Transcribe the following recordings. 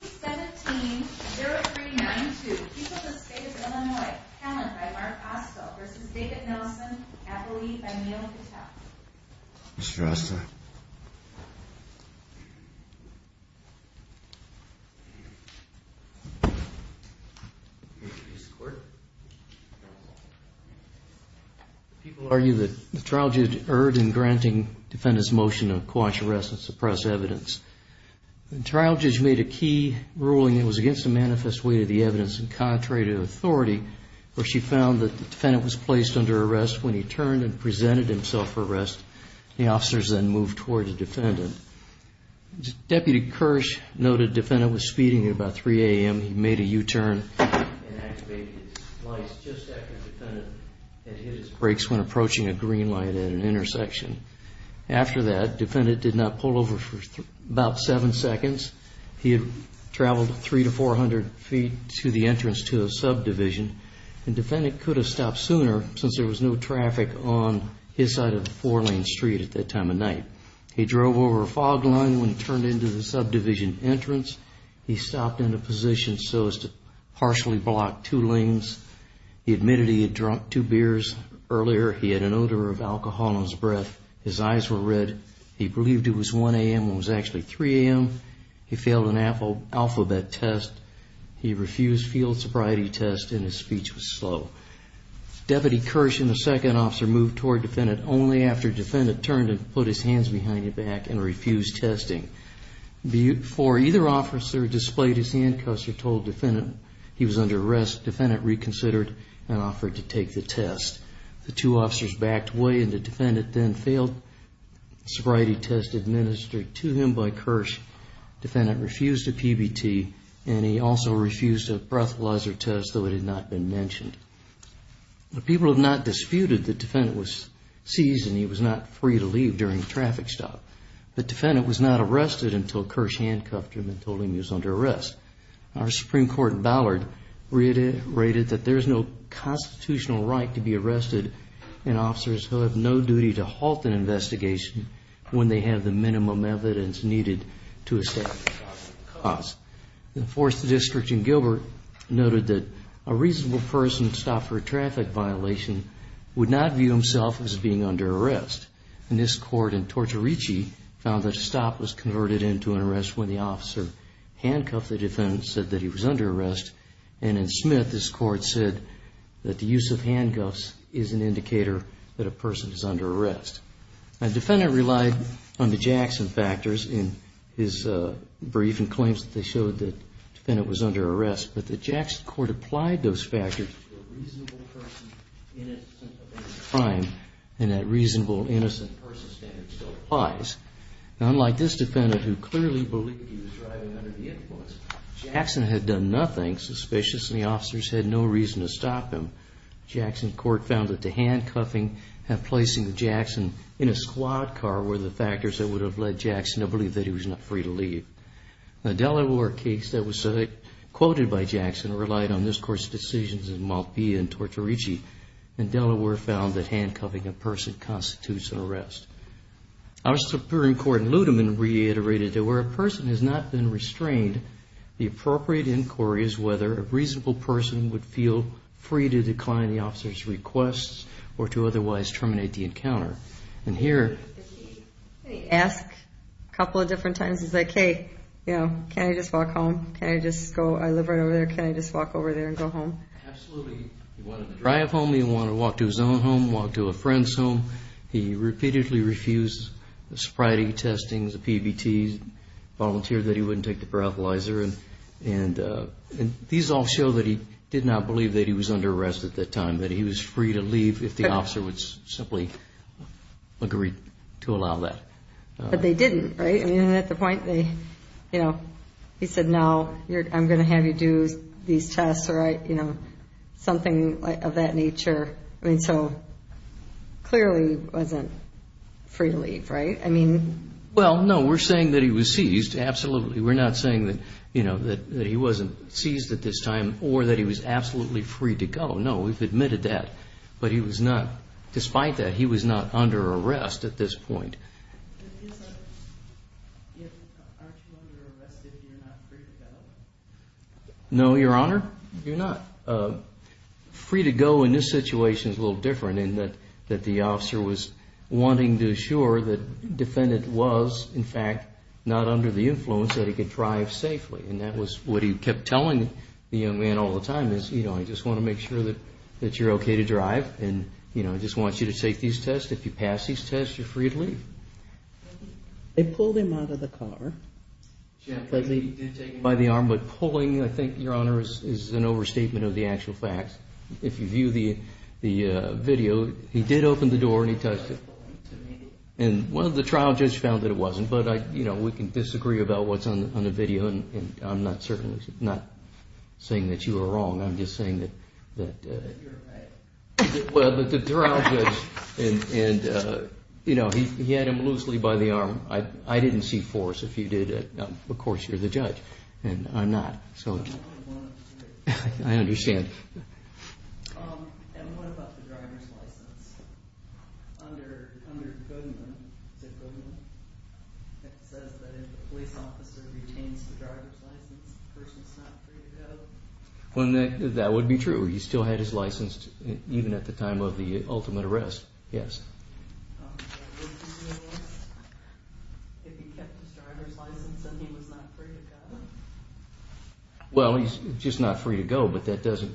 17, 0392, Peoples Estate of Illinois, talent by Mark Osso v. David Nelson, athlete by Neal Patel. Mr. Osso. People argue that the trial judge erred in granting defendants' motion to quash, arrest, and suppress evidence. The trial judge made a key ruling that was against the manifest weight of the evidence and contrary to authority, where she found that the defendant was placed under arrest when he turned and presented himself for arrest. The officers then moved toward the defendant. Deputy Kirsch noted the defendant was speeding at about 3 a.m. He made a U-turn and activated his lights just after the defendant had hit his brakes when approaching a green light at an intersection. After that, defendant did not pull over for about seven seconds. He had traveled 300 to 400 feet to the entrance to a subdivision, and defendant could have stopped sooner since there was no traffic on his side of the four-lane street at that time of night. He drove over a fog line when he turned into the subdivision entrance. He stopped in a position so as to partially block two lanes. He admitted he had drunk two beers earlier. He had an odor of alcohol in his breath. His eyes were red. He believed it was 1 a.m. when it was actually 3 a.m. He failed an alphabet test. He refused field sobriety test, and his speech was slow. Deputy Kirsch and the second officer moved toward defendant only after defendant turned and put his hands behind his back and refused testing. Before either officer displayed his handcuffs or told defendant he was under arrest, defendant reconsidered and offered to take the test. The two officers backed away, and the defendant then failed sobriety test administered to him by Kirsch. Defendant refused a PBT, and he also refused a breathalyzer test, though it had not been mentioned. The people have not disputed the defendant was seized and he was not free to leave during the traffic stop, but defendant was not arrested until Kirsch handcuffed him and told him he was under arrest. Our Supreme Court in Ballard reiterated that there is no constitutional right to be arrested in officers who have no duty to halt an investigation when they have the minimum evidence needed to establish the cause. The fourth district in Gilbert noted that a reasonable person stopped for a traffic violation would not view himself as being under arrest, and this court in Tortorici found that a stop was converted into an arrest when the officer handcuffed the defendant, said that he was under arrest, and in Smith, this court said that the use of handcuffs is an indicator that a person is under arrest. A defendant relied on the Jackson factors in his brief and claims that they showed that the defendant was under arrest, but the Jackson court applied those factors to a reasonable person innocent of any crime, and that reasonable innocent person standard still applies. Unlike this defendant who clearly believed he was driving under the influence, Jackson had done nothing suspicious, and the officers had no reason to stop him. Jackson court found that the handcuffing and placing Jackson in a squad car were the factors that would have led Jackson to believe that he was not free to leave. A Delaware case that was quoted by Jackson relied on this court's decisions in Malpia and Tortorici, and Delaware found that handcuffing a person constitutes an arrest. Our Supreme Court in Ludeman reiterated that where a person has not been restrained, the appropriate inquiry is whether a reasonable person would feel free to decline the officer's requests or to otherwise terminate the encounter. And here. If he asked a couple of different times, he's like, hey, can I just walk home? Can I just go, I live right over there, can I just walk over there and go home? Absolutely, he wanted to drive home, he wanted to walk to his own home, walk to a friend's home. He repeatedly refused the sobriety testings, the PBTs, volunteered that he wouldn't take the paraphernalia, and these all show that he did not believe that he was under arrest at that time, that he was free to leave if the officer would simply agree to allow that. But they didn't, right? I mean, at the point, they, you know, he said, no, I'm gonna have you do these tests, or I, you know, something of that nature. I mean, so, clearly wasn't free to leave, right? Well, no, we're saying that he was seized, absolutely. We're not saying that, you know, that he wasn't seized at this time, or that he was absolutely free to go. No, we've admitted that. But he was not, despite that, he was not under arrest at this point. No, Your Honor, you're not. Free to go in this situation is a little different in that the officer was wanting to assure that the defendant was, in fact, not under the influence, that he could drive safely. And that was what he kept telling the young man all the time, is, you know, I just wanna make sure that you're okay to drive, and, you know, I just want you to take these tests. If you pass these tests, you're free to leave. They pulled him out of the car. Yeah, they did take him by the arm, but pulling, I think, Your Honor, is an overstatement of the actual facts. If you view the video, he did open the door, and he touched it. And, well, the trial judge found that it wasn't, but, you know, we can disagree about what's on the video, and I'm not saying that you were wrong. I'm just saying that... That you're right. Well, but the trial judge, and, you know, he had him loosely by the arm. I didn't see force. If you did, of course, you're the judge. And I'm not, so. I understand. Under the codename, is it a codename? It says that if a police officer retains the driver's license, the person's not free to go. Well, that would be true. He still had his license, even at the time of the ultimate arrest, yes. If he kept his driver's license, and he was not free to go? Well, he's just not free to go, but that doesn't,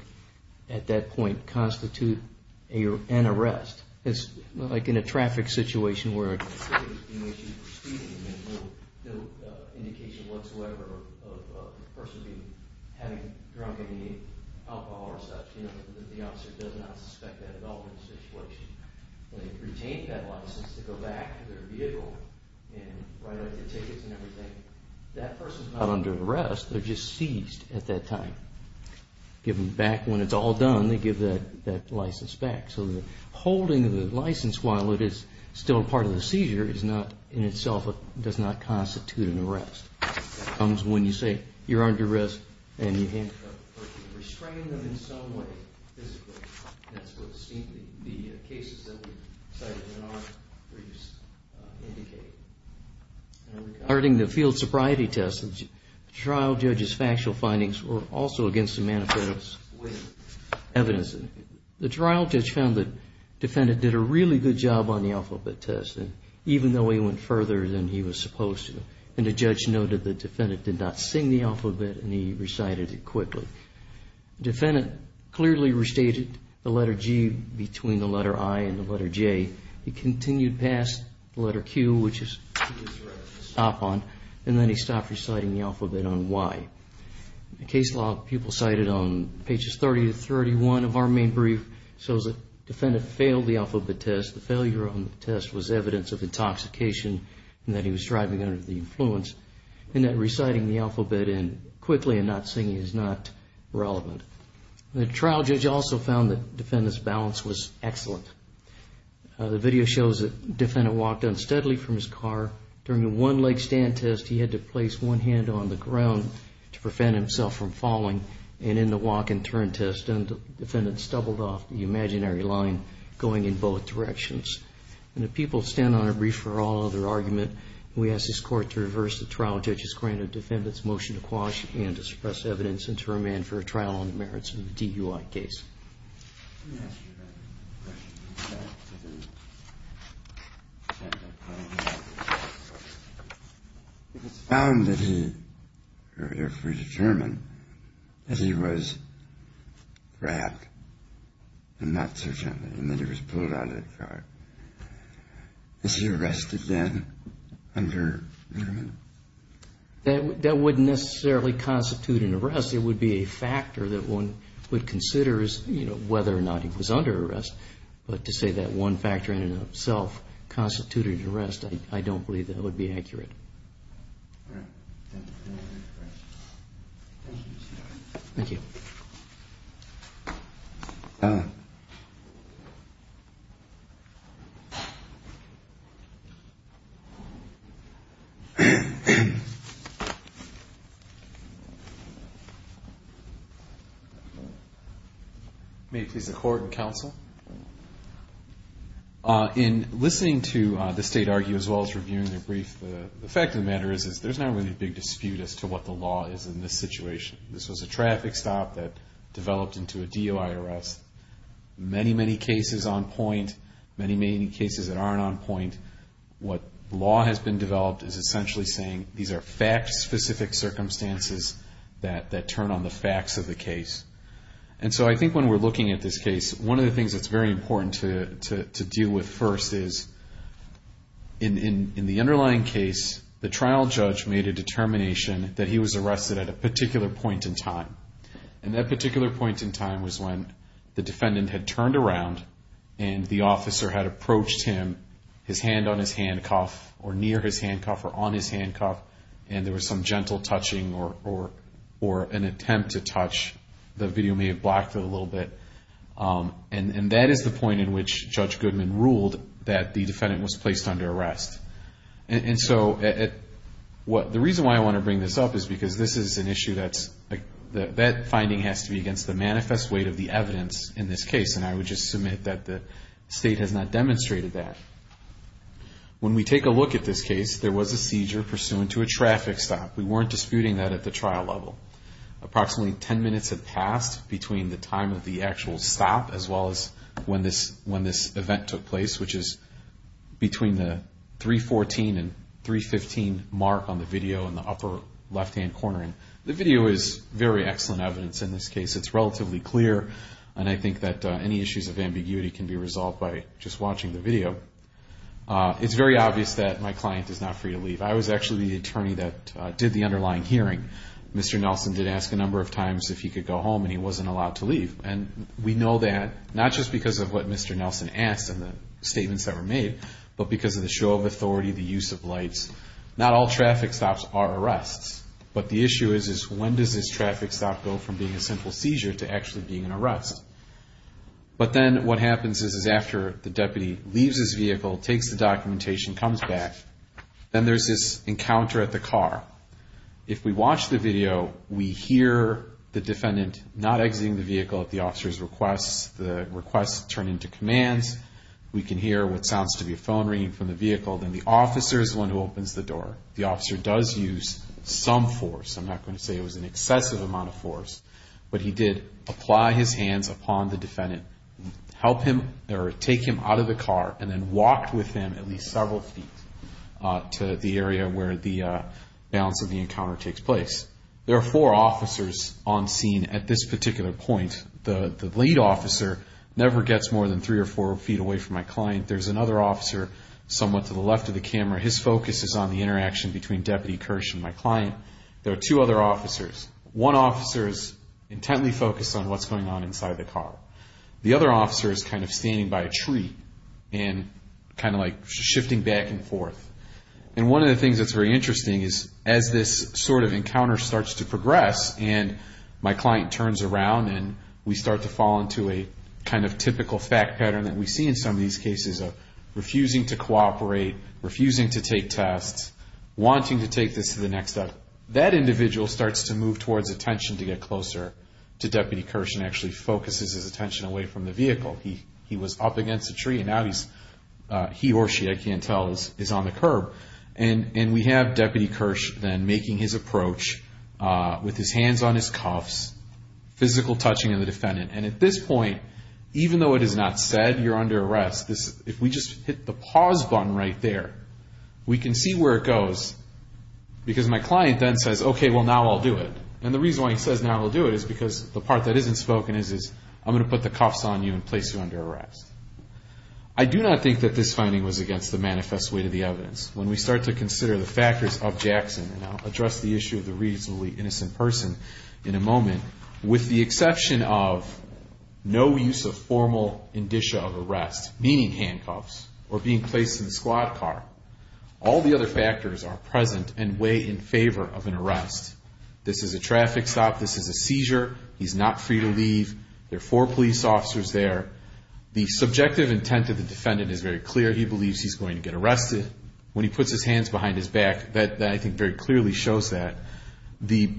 at that point, constitute an arrest. It's like in a traffic situation, where there's no indication whatsoever of the person having drunk any alcohol or such. You know, the officer does not suspect that at all in the situation. When they retain that license to go back to their vehicle, and write out the tickets and everything, that person's not under arrest, they're just seized at that time. Give them back, when it's all done, they give that license back. So the holding of the license, while it is still a part of the seizure, is not, in itself, does not constitute an arrest. It comes when you say you're under arrest, and you handcuff the person. Restrain them in some way, physically. That's what the cases that we cited in our briefs indicate. Regarding the field sobriety test, the trial judge's factual findings were also against the manifesto's evidence. The trial judge found that the defendant did a really good job on the alphabet test, even though he went further than he was supposed to. And the judge noted that the defendant did not sing the alphabet, and he recited it quickly. The defendant clearly restated the letter G between the letter I and the letter J. He continued past the letter Q, which is what he stopped on, and then he stopped reciting the alphabet on Y. The case law people cited on pages 30 to 31 of our main brief shows that the defendant failed the alphabet test. The failure on the test was evidence of intoxication, and that he was driving under the influence, and that reciting the alphabet quickly and not singing is not relevant. The trial judge also found that the defendant's balance was excellent. The video shows that the defendant walked unsteadily from his car. During the one-leg stand test, he had to place one hand on the ground to prevent himself from falling. And in the walk-and-turn test, the defendant stumbled off the imaginary line, going in both directions. And the people stand on a brief for all other argument. We ask this court to reverse the trial judge's grant of defendants' motion to quash and to suppress evidence and to remand for a trial on the merits of the DUI case. Let me ask you a question about the fact that the defendant found that he, or if we determine that he was grabbed and not so gently, and that he was pulled out of the car, is he arrested then under remand? That wouldn't necessarily constitute an arrest. It would be a factor that one would consider whether or not he was under arrest. But to say that one factor in and of itself constituted an arrest, I don't believe that would be accurate. Thank you. May it please the court and counsel. In listening to the state argue, as well as reviewing their brief, the fact of the matter is there's not really a big dispute as to what the law is in this situation. This was a traffic stop that developed into a DUI arrest. Many, many cases on point. Many, many cases that aren't on point. What law has been developed is essentially saying these are fact-specific circumstances that turn on the facts of the case. And so I think when we're looking at this case, one of the things that's very important to deal with first is in the underlying case, the trial judge made a determination that he was arrested at a particular point in time. And that particular point in time was when the defendant had turned around and the officer had approached him, his hand on his handcuff, or near his handcuff, or on his handcuff, and there was some gentle touching or an attempt to touch. The video may have blocked it a little bit. And that is the point in which Judge Goodman ruled that the defendant was placed under arrest. And so the reason why I want to bring this up is because this is an issue that's, that finding has to be against the manifest weight of the evidence in this case. And I would just submit that the state has not demonstrated that. When we take a look at this case, there was a seizure pursuant to a traffic stop. We weren't disputing that at the trial level. Approximately 10 minutes had passed between the time of the actual stop as well as when this event took place, which is between the 314 and 315 mark on the video in the upper left-hand corner. The video is very excellent evidence in this case. It's relatively clear. And I think that any issues of ambiguity can be resolved by just watching the video. It's very obvious that my client is not free to leave. I was actually the attorney that did the underlying hearing. Mr. Nelson did ask a number of times if he could go home and he wasn't allowed to leave. And we know that not just because of what Mr. Nelson asked and the statements that were made, but because of the show of authority, the use of lights. Not all traffic stops are arrests. But the issue is, is when does this traffic stop go from being a simple seizure to actually being an arrest? But then what happens is, is after the deputy leaves his vehicle, takes the documentation, comes back, then there's this encounter at the car. If we watch the video, we hear the defendant not exiting the vehicle at the officer's requests. The requests turn into commands. We can hear what sounds to be a phone ringing from the vehicle. Then the officer is the one who opens the door. The officer does use some force. I'm not going to say it was an excessive amount of force, but he did apply his hands upon the defendant, help him, or take him out of the car, and then walked with him at least several feet to the area where the balance of the encounter takes place. There are four officers on scene at this particular point. The lead officer never gets more than three or four feet away from my client. There's another officer somewhat to the left of the camera. His focus is on the interaction between Deputy Kirsch and my client. There are two other officers. One officer is intently focused on what's going on inside the car. The other officer is kind of standing by a tree and kind of like shifting back and forth. And one of the things that's very interesting is as this sort of encounter starts to progress and my client turns around and we start to fall into a kind of typical fact pattern that we see in some of these cases of refusing to cooperate, refusing to take tests, wanting to take this to the next step, that individual starts to move towards attention to get closer to Deputy Kirsch and actually focuses his attention away from the vehicle. He was up against a tree and now he or she, I can't tell, is on the curb. And we have Deputy Kirsch then making his approach with his hands on his cuffs, physical touching of the defendant. And at this point, even though it is not said, you're under arrest, if we just hit the pause button right there, we can see where it goes because my client then says, okay, well now I'll do it. And the reason why he says now I'll do it is because the part that isn't spoken is I'm gonna put the cuffs on you and place you under arrest. I do not think that this finding was against the manifest way to the evidence. When we start to consider the factors of Jackson, and I'll address the issue of the reasonably innocent person in a moment, with the exception of no use of formal indicia of arrest, meaning handcuffs or being placed in the squad car. All the other factors are present and weigh in favor of an arrest. This is a traffic stop. This is a seizure. He's not free to leave. There are four police officers there. The subjective intent of the defendant is very clear. He believes he's going to get arrested. When he puts his hands behind his back, that I think very clearly shows that. The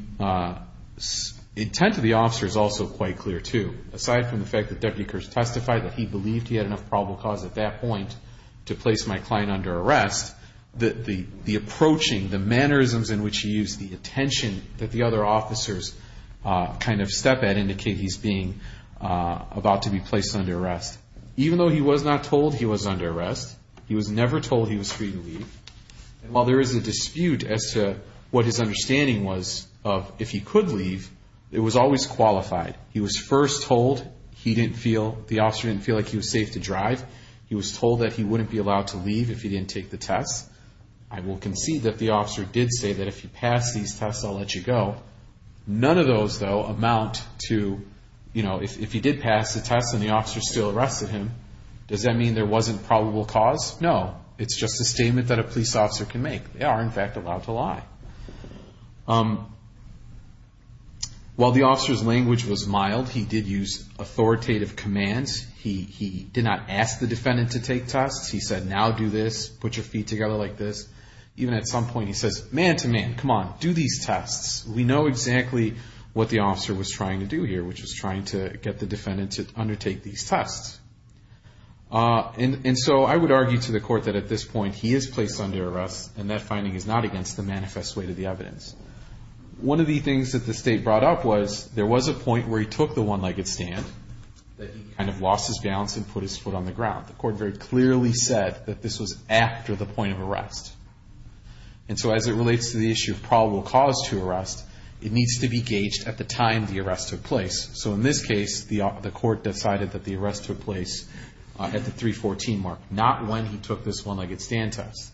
intent of the officer is also quite clear too. Aside from the fact that Deputy Kirsch testified that he believed he had enough probable cause at that point to place my client under arrest, the approaching, the mannerisms in which he used, the attention that the other officers kind of step at indicate he's being about to be placed under arrest. Even though he was not told he was under arrest, he was never told he was free to leave. While there is a dispute as to what his understanding was of if he could leave, it was always qualified. He was first told he didn't feel, the officer didn't feel like he was safe to drive. He was told that he wouldn't be allowed to leave if he didn't take the test. I will concede that the officer did say that if you pass these tests, I'll let you go. None of those though amount to, if he did pass the test and the officer still arrested him, does that mean there wasn't probable cause? No, it's just a statement that a police officer can make. They are in fact allowed to lie. While the officer's language was mild, he did use authoritative commands. He did not ask the defendant to take tests. He said, now do this, put your feet together like this. Even at some point he says, man to man, come on, do these tests. We know exactly what the officer was trying to do here, which was trying to get the defendant to undertake these tests. And so I would argue to the court that at this point, he is placed under arrest and that finding is not against the manifest way to the evidence. One of the things that the state brought up was, there was a point where he took the one-legged stand that he kind of lost his balance and put his foot on the ground. The court very clearly said that this was after the point of arrest. And so as it relates to the issue of probable cause to arrest, it needs to be gauged at the time the arrest took place. So in this case, the court decided that the arrest took place at the 314 mark, not when he took this one-legged stand test.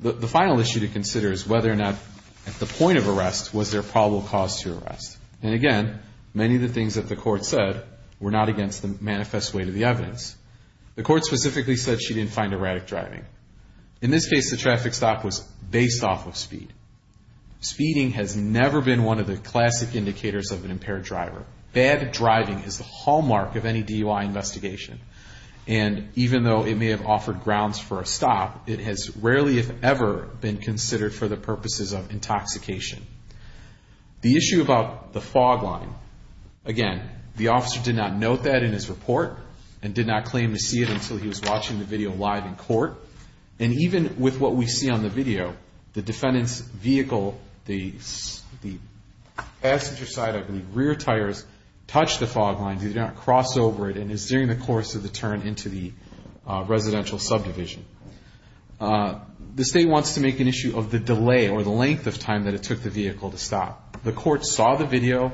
The final issue to consider is whether or not at the point of arrest was there probable cause to arrest. And again, many of the things that the court said were not against the manifest way to the evidence. The court specifically said she didn't find erratic driving. In this case, the traffic stop was based off of speed. Speeding has never been one of the classic indicators of an impaired driver. Bad driving is the hallmark of any DUI investigation. And even though it may have offered grounds for a stop, it has rarely if ever been considered for the purposes of intoxication. The issue about the fog line. Again, the officer did not note that in his report and did not claim to see it until he was watching the video live in court. And even with what we see on the video, the defendant's vehicle, the passenger side, I believe, rear tires, touched the fog line, did not cross over it, and is during the course of the turn into the residential subdivision. The state wants to make an issue of the delay or the length of time that it took the vehicle to stop. The court saw the video.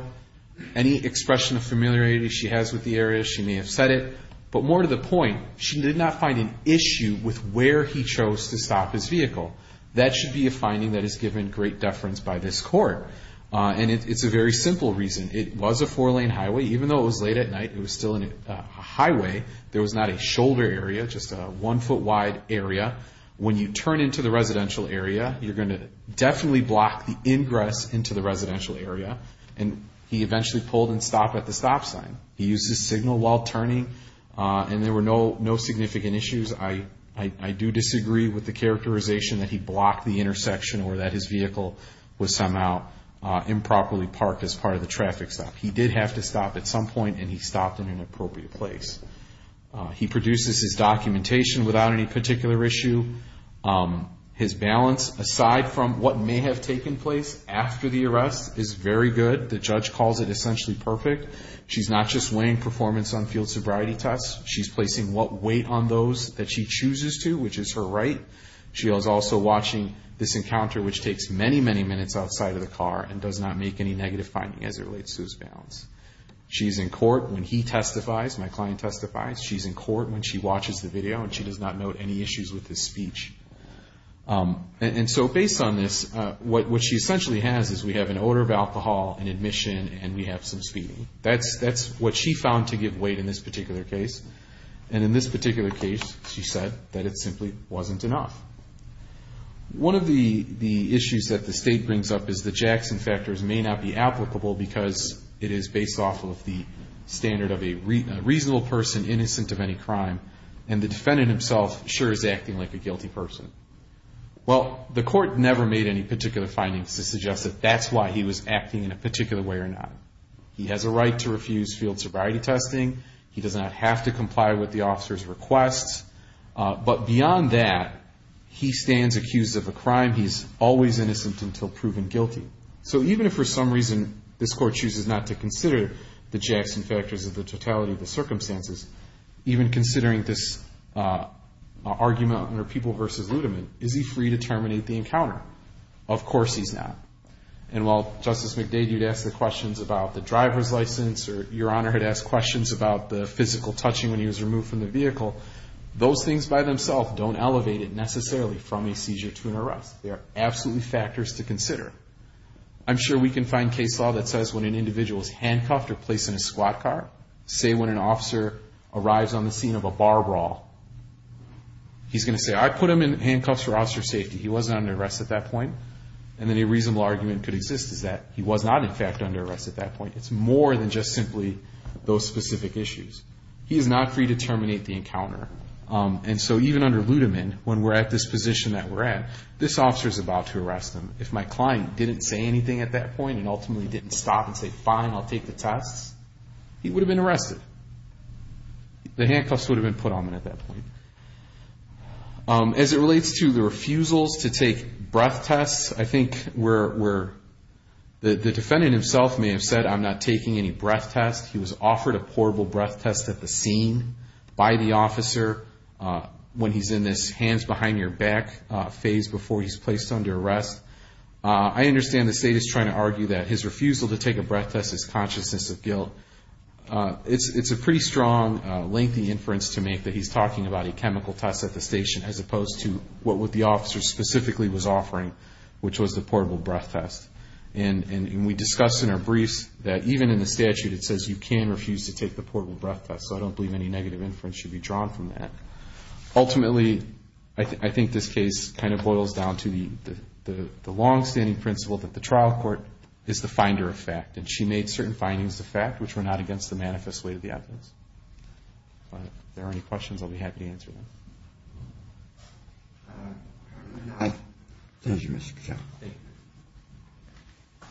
Any expression of familiarity she has with the area, she may have said it. But more to the point, she did not find an issue with where he chose to stop his vehicle. That should be a finding that is given great deference by this court. And it's a very simple reason. It was a four lane highway. Even though it was late at night, it was still a highway. There was not a shoulder area, just a one foot wide area. When you turn into the residential area, you're gonna definitely block the ingress into the residential area. And he eventually pulled and stopped at the stop sign. He used his signal while turning, and there were no significant issues. I do disagree with the characterization that he blocked the intersection or that his vehicle was somehow improperly parked as part of the traffic stop. He did have to stop at some point, and he stopped in an appropriate place. He produces his documentation without any particular issue. His balance, aside from what may have taken place after the arrest, is very good. The judge calls it essentially perfect. She's not just weighing performance on field sobriety tests. She's placing what weight on those that she chooses to, which is her right. She is also watching this encounter, which takes many, many minutes outside of the car and does not make any negative finding as it relates to his balance. She's in court when he testifies, my client testifies. She's in court when she watches the video, and she does not note any issues with his speech. And so based on this, what she essentially has is we have an odor of alcohol, an admission, and we have some speeding. That's what she found to give weight in this particular case. And in this particular case, she said that it simply wasn't enough. One of the issues that the state brings up is the Jackson factors may not be applicable because it is based off of the standard of a reasonable person innocent of any crime, and the defendant himself sure is acting like a guilty person. Well, the court never made any particular findings to suggest that that's why he was acting in a particular way or not. He has a right to refuse field sobriety testing. He does not have to comply with the officer's requests. But beyond that, he stands accused of a crime. He's always innocent until proven guilty. So even if for some reason this court chooses not to consider the Jackson factors of the totality of the circumstances, even considering this argument under people versus ludiment, is he free to terminate the encounter? Of course he's not. And while Justice McDade, you'd ask the questions about the driver's license, or Your Honor had asked questions about the physical touching when he was removed from the vehicle, those things by themselves don't elevate it necessarily from a seizure to an arrest. They are absolutely factors to consider. I'm sure we can find case law that says when an individual is handcuffed or placed in a squat car, say when an officer arrives on the scene of a bar brawl, he's gonna say, I put him in handcuffs for officer safety. He wasn't under arrest at that point. And then a reasonable argument could exist is that he was not in fact under arrest at that point. It's more than just simply those specific issues. He is not free to terminate the encounter. And so even under ludiment, when we're at this position that we're at, this officer is about to arrest him. If my client didn't say anything at that point and ultimately didn't stop and say, fine, I'll take the tests, he would have been arrested. The handcuffs would have been put on him at that point. As it relates to the refusals to take breath tests, I think where the defendant himself may have said, I'm not taking any breath test. He was offered a portable breath test at the scene by the officer when he's in this hands behind your back phase before he's placed under arrest. I understand the state is trying to argue that his refusal to take a breath test is consciousness of guilt. It's a pretty strong, lengthy inference to make that he's talking about a chemical test at the station as opposed to what the officer specifically was offering, which was the portable breath test. And we discussed in our briefs that even in the statute, it says you can refuse to take the portable breath test. So I don't believe any negative inference should be drawn from that. Ultimately, I think this case kind of boils down to the long standing principle that the trial court is the finder of fact. And she made certain findings of fact, which were not against the manifest way of the evidence. But if there are any questions, I'll be happy to answer them. I thank you, Mr. Cattell. Thank you. Thank you.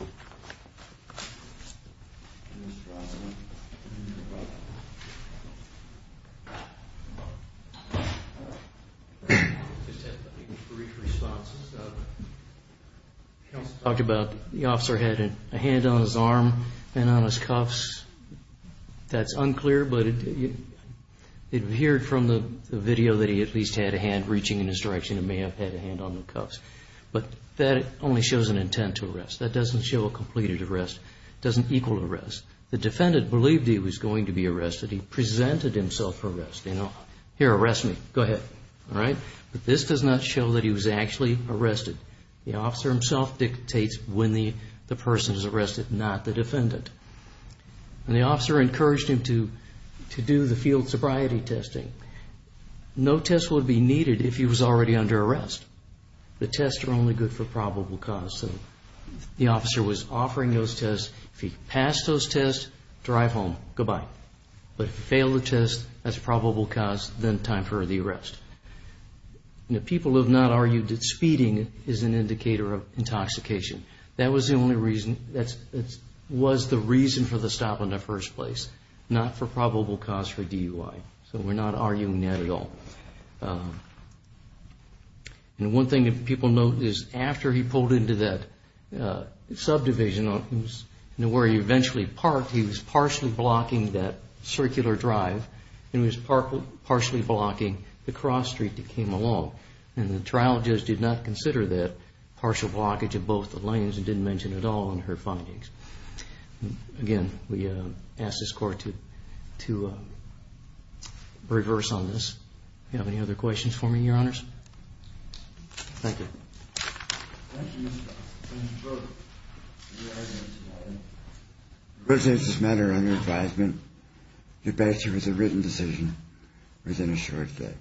Talked about the officer had a hand on his arm and on his cuffs. That's unclear, but it appeared from the video that he at least had a hand reaching in his direction and may have had a hand on the cuffs. But that only shows an intent to arrest. That doesn't show a completed arrest. Doesn't equal arrest. The defendant believed he was going to be arrested. He presented himself for arrest. You know, here, arrest me, go ahead. All right? But this does not show that he was actually arrested. The officer himself dictates when the person is arrested, not the defendant. And the officer encouraged him to do the field sobriety testing. No test would be needed if he was already under arrest. The tests are only good for probable cause. The officer was offering those tests. If he passed those tests, drive home, goodbye. But if he failed the test, that's probable cause, then time for the arrest. And the people have not argued that speeding is an indicator of intoxication. That was the only reason. That was the reason for the stop in the first place, not for probable cause for DUI. So we're not arguing that at all. And one thing that people note is after he pulled into that subdivision where he eventually parked, he was partially blocking that circular drive and was partially blocking the cross street that came along. And the trial judge did not consider that partial blockage of both the lanes and didn't mention at all in her findings. Again, we ask this court to reverse on this. You have any other questions for me, your honors? Thank you. Thank you, Mr. Officer. Thank you both for your evidence. The evidence is matter on your advisement. Your base here was a written decision within a short day.